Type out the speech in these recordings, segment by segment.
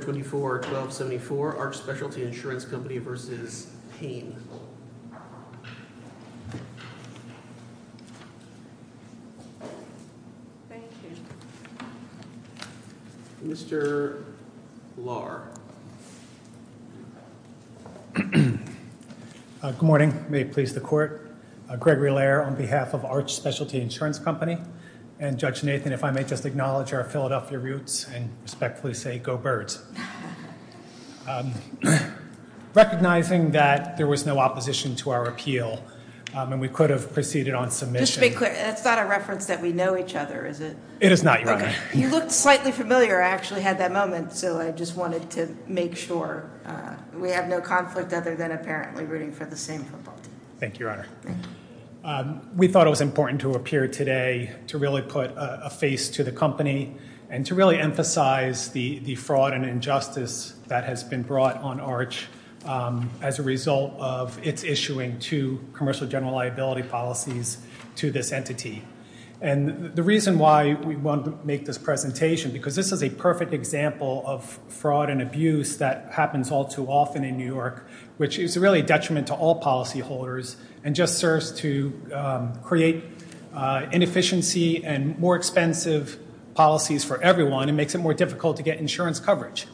24-1274 Arch Specialty Insurance Company v. Payne. Mr. Lahr. Good morning. May it please the court. Gregory Lahr on behalf of Arch Specialty Insurance Company and Judge Nathan if I may just acknowledge our Philadelphia roots and respectfully say go birds. Recognizing that there was no opposition to our appeal and we could have proceeded on submission. Just to be clear, it's not a reference that we know each other is it? It is not your honor. You look slightly familiar, I actually had that moment so I just wanted to make sure we have no conflict other than apparently rooting for the same football team. Thank and to really emphasize the fraud and injustice that has been brought on Arch as a result of its issuing to commercial general liability policies to this entity. And the reason why we wanted to make this presentation because this is a perfect example of fraud and abuse that happens all too often in New York which is really a detriment to all policyholders and just serves to create inefficiency and more expensive policies for everyone and makes it more difficult to get insurance coverage.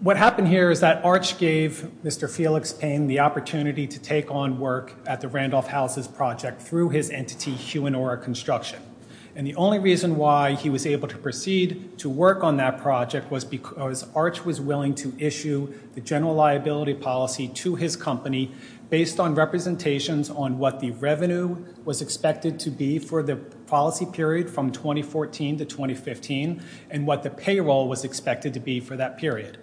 What happened here is that Arch gave Mr. Felix Payne the opportunity to take on work at the Randolph Houses project through his entity Huonora Construction. And the only reason why he was able to proceed to work on that project was because Arch was willing to issue the general liability policy to his company based on representations on what the revenue was expected to be for the policy period from 2014 to 2015 and what the payroll was expected to be for that period.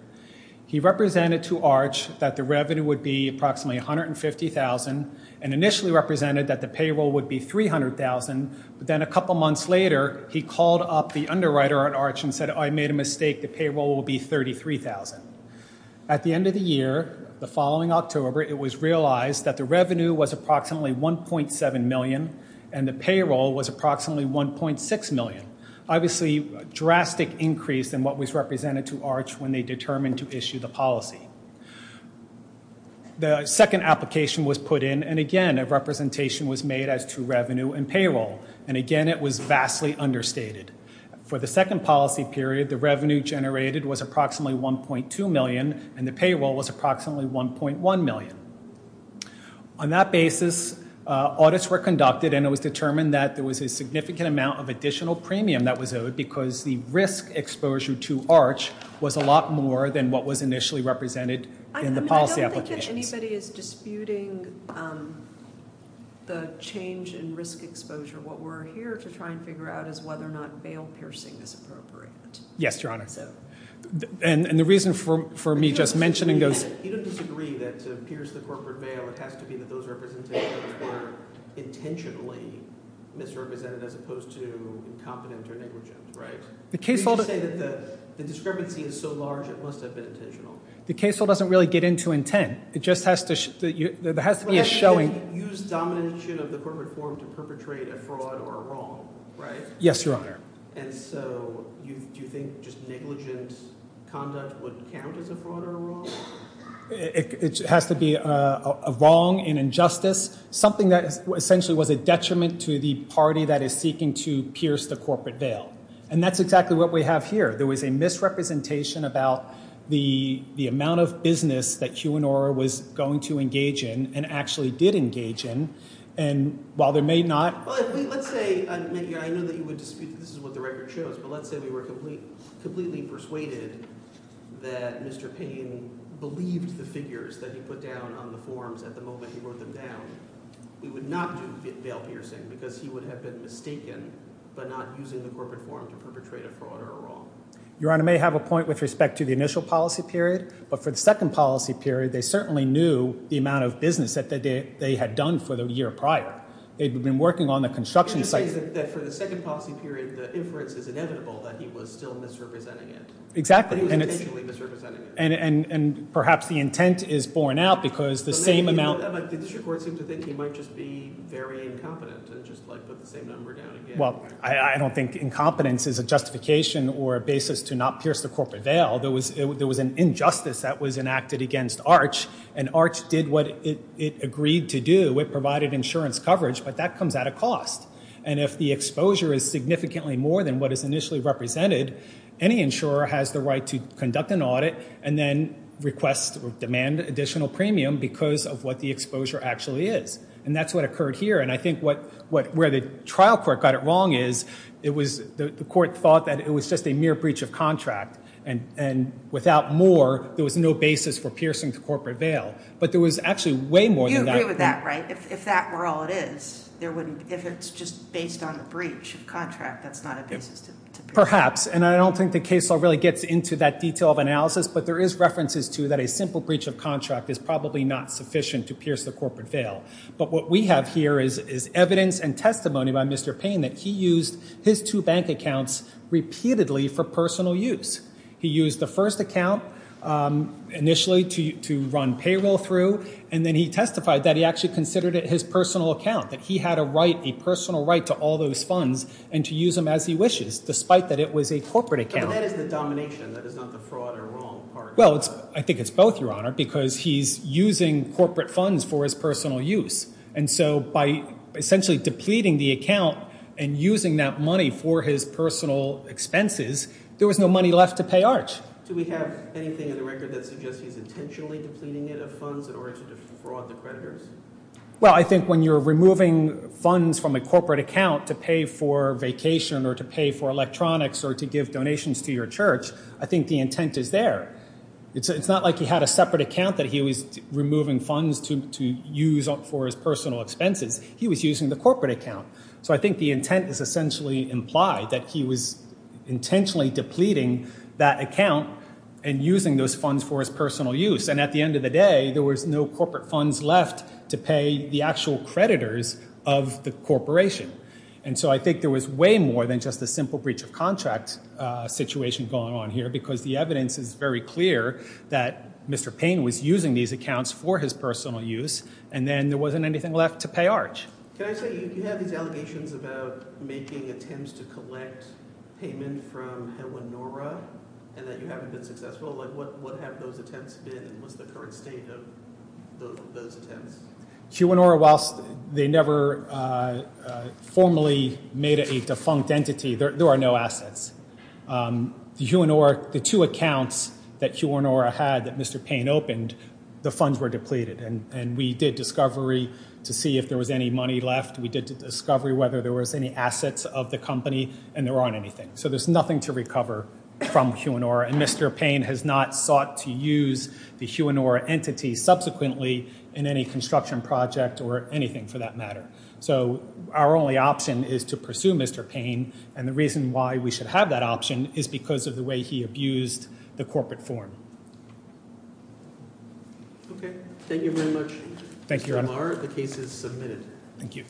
He represented to Arch that the revenue would be approximately $150,000 and initially represented that the payroll would be $300,000 but then a couple months later he called up the underwriter at Arch and said I made a mistake, the payroll will be $33,000. At the end of the year, the following October it was realized that the revenue was approximately $1.7 million and the payroll was approximately $1.6 million. Obviously a drastic increase in what was represented to Arch when they determined to issue the policy. The second application was put in and again a representation was made as to revenue and payroll and again it was vastly understated. For the second policy period, the revenue generated was approximately $1.2 million and the payroll was approximately $1.1 million. On that basis, audits were conducted and it was determined that there was a significant amount of additional premium that was owed because the risk exposure to Arch was a lot more than what was initially represented in the policy applications. I don't think that anybody is disputing the change in risk exposure. What we're here to try and figure out is whether or not bail piercing is appropriate. Yes, Your Honor. And the reason for me just mentioning those... You don't disagree that to pierce the corporate bail it has to be that those representations were intentionally misrepresented as opposed to incompetent or negligent, right? The case... You say that the discrepancy is so large it must have been intentional. The case law doesn't really get into intent. It just has to... There has to be a showing... Use domination of the corporate forum to perpetrate a fraud or a wrong, right? Yes, Your Honor. And so, do you think just negligent conduct would count as a fraud or a wrong? It has to be a wrong, an injustice, something that essentially was a detriment to the party that is seeking to pierce the corporate bail. And that's exactly what we have here. There was a misrepresentation about the amount of business that QAnora was going to engage in and actually did engage in. And while there may not... Let's say... I know that you would dispute that this is what the record shows, but let's say we were completely persuaded that Mr. Payne believed the figures that he put down on the forms at the moment he wrote them down. We would not do bail piercing because he would have been mistaken by not using the corporate forum to perpetrate a fraud or a wrong. Your Honor, I may have a point with respect to the initial policy period, but for the second policy period, they certainly knew the amount of business that they had done for the year prior. They'd been working on the construction site... You're just saying that for the second policy period, the inference is inevitable that he was still misrepresenting it. Exactly. He was intentionally misrepresenting it. And perhaps the intent is borne out because the same amount... But the district court seemed to think he might just be very incompetent and just put the same number down again. Well, I don't think incompetence is a justification or a basis to not pierce a corporate bail. There was an injustice that was enacted against ARCH and ARCH did what it agreed to do. It provided insurance coverage, but that comes at a cost. And if the exposure is significantly more than what is initially represented, any insurer has the right to conduct an audit and then request or demand additional premium because of what the exposure actually is. And that's what occurred here. And I think where the trial court got it wrong is the court thought that it was just a mere breach of contract and without more, there was no basis for piercing the corporate bail. But there was actually way more than that. You agree with that, right? If that were all it is, if it's just based on the breach of contract, that's not a basis to... Perhaps. And I don't think the case law really gets into that detail of analysis, but there is references to that a simple breach of contract is probably not sufficient to pierce the corporate bail. But what we have here is evidence and testimony by Mr. Payne that he used his two bank accounts repeatedly for personal use. He used the first account initially to run payroll through and then he testified that he actually considered it his personal account, that he had a right, a personal right to all those funds and to use them as he wishes, despite that it was a corporate account. And that is the domination. That is not the fraud or wrong part of it. Well, I think it's both, Your Honour, because he's using corporate funds for his personal use. And so by essentially depleting the account and using that money for his personal expenses, there was no money left to pay Arch. Do we have anything in the record that suggests he's intentionally depleting it of funds in order to defraud the creditors? Well, I think when you're removing funds from a corporate account to pay for vacation or to pay for electronics or to give donations to your church, I think the intent is there. It's not like he had a separate account that he was removing funds to use for his personal expenses. He was using the corporate account. So I think the intent is essentially implied that he was intentionally depleting that account and using those funds for his personal use. And at the end of the day, there was no corporate funds left to pay the actual creditors of the corporation. And so I think there was way more than just a simple breach of contract situation going on here because the evidence is very clear that Mr. Payne was using these accounts for his personal use and then there wasn't anything left to pay Arch. Can I say, you have these allegations about making attempts to collect payment from Huonora and that you haven't been successful. What have those attempts been and what's the current state of those attempts? Huonora, whilst they never formally made a defunct entity, there are no assets. The Huonora, the two accounts that Huonora had that Mr. Payne opened, the funds were depleted and we did discovery to see if there was any money left. We did discovery whether there was any assets of the company and there aren't anything. So there's nothing to recover from Huonora and Mr. Payne has not sought to use the Huonora entity subsequently in any construction project or anything for that matter. So our only option is to pursue Mr. Payne and the reason why we should have that option is because of the way he abused the corporate form. Thank you very much. Thank you, Your Honour. The case is submitted. Thank you.